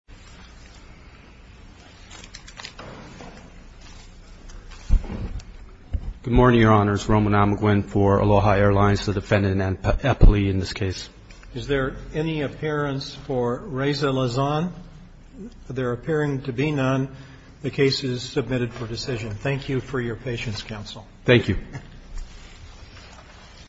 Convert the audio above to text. Good morning, Your Honors. Roman Amagwin for Aloha Airlines, the defendant, in this case. Is there any appearance for Reza Lazane? There appearing to be none. The case is submitted for decision. Thank you for your patience, Counsel. Thank you.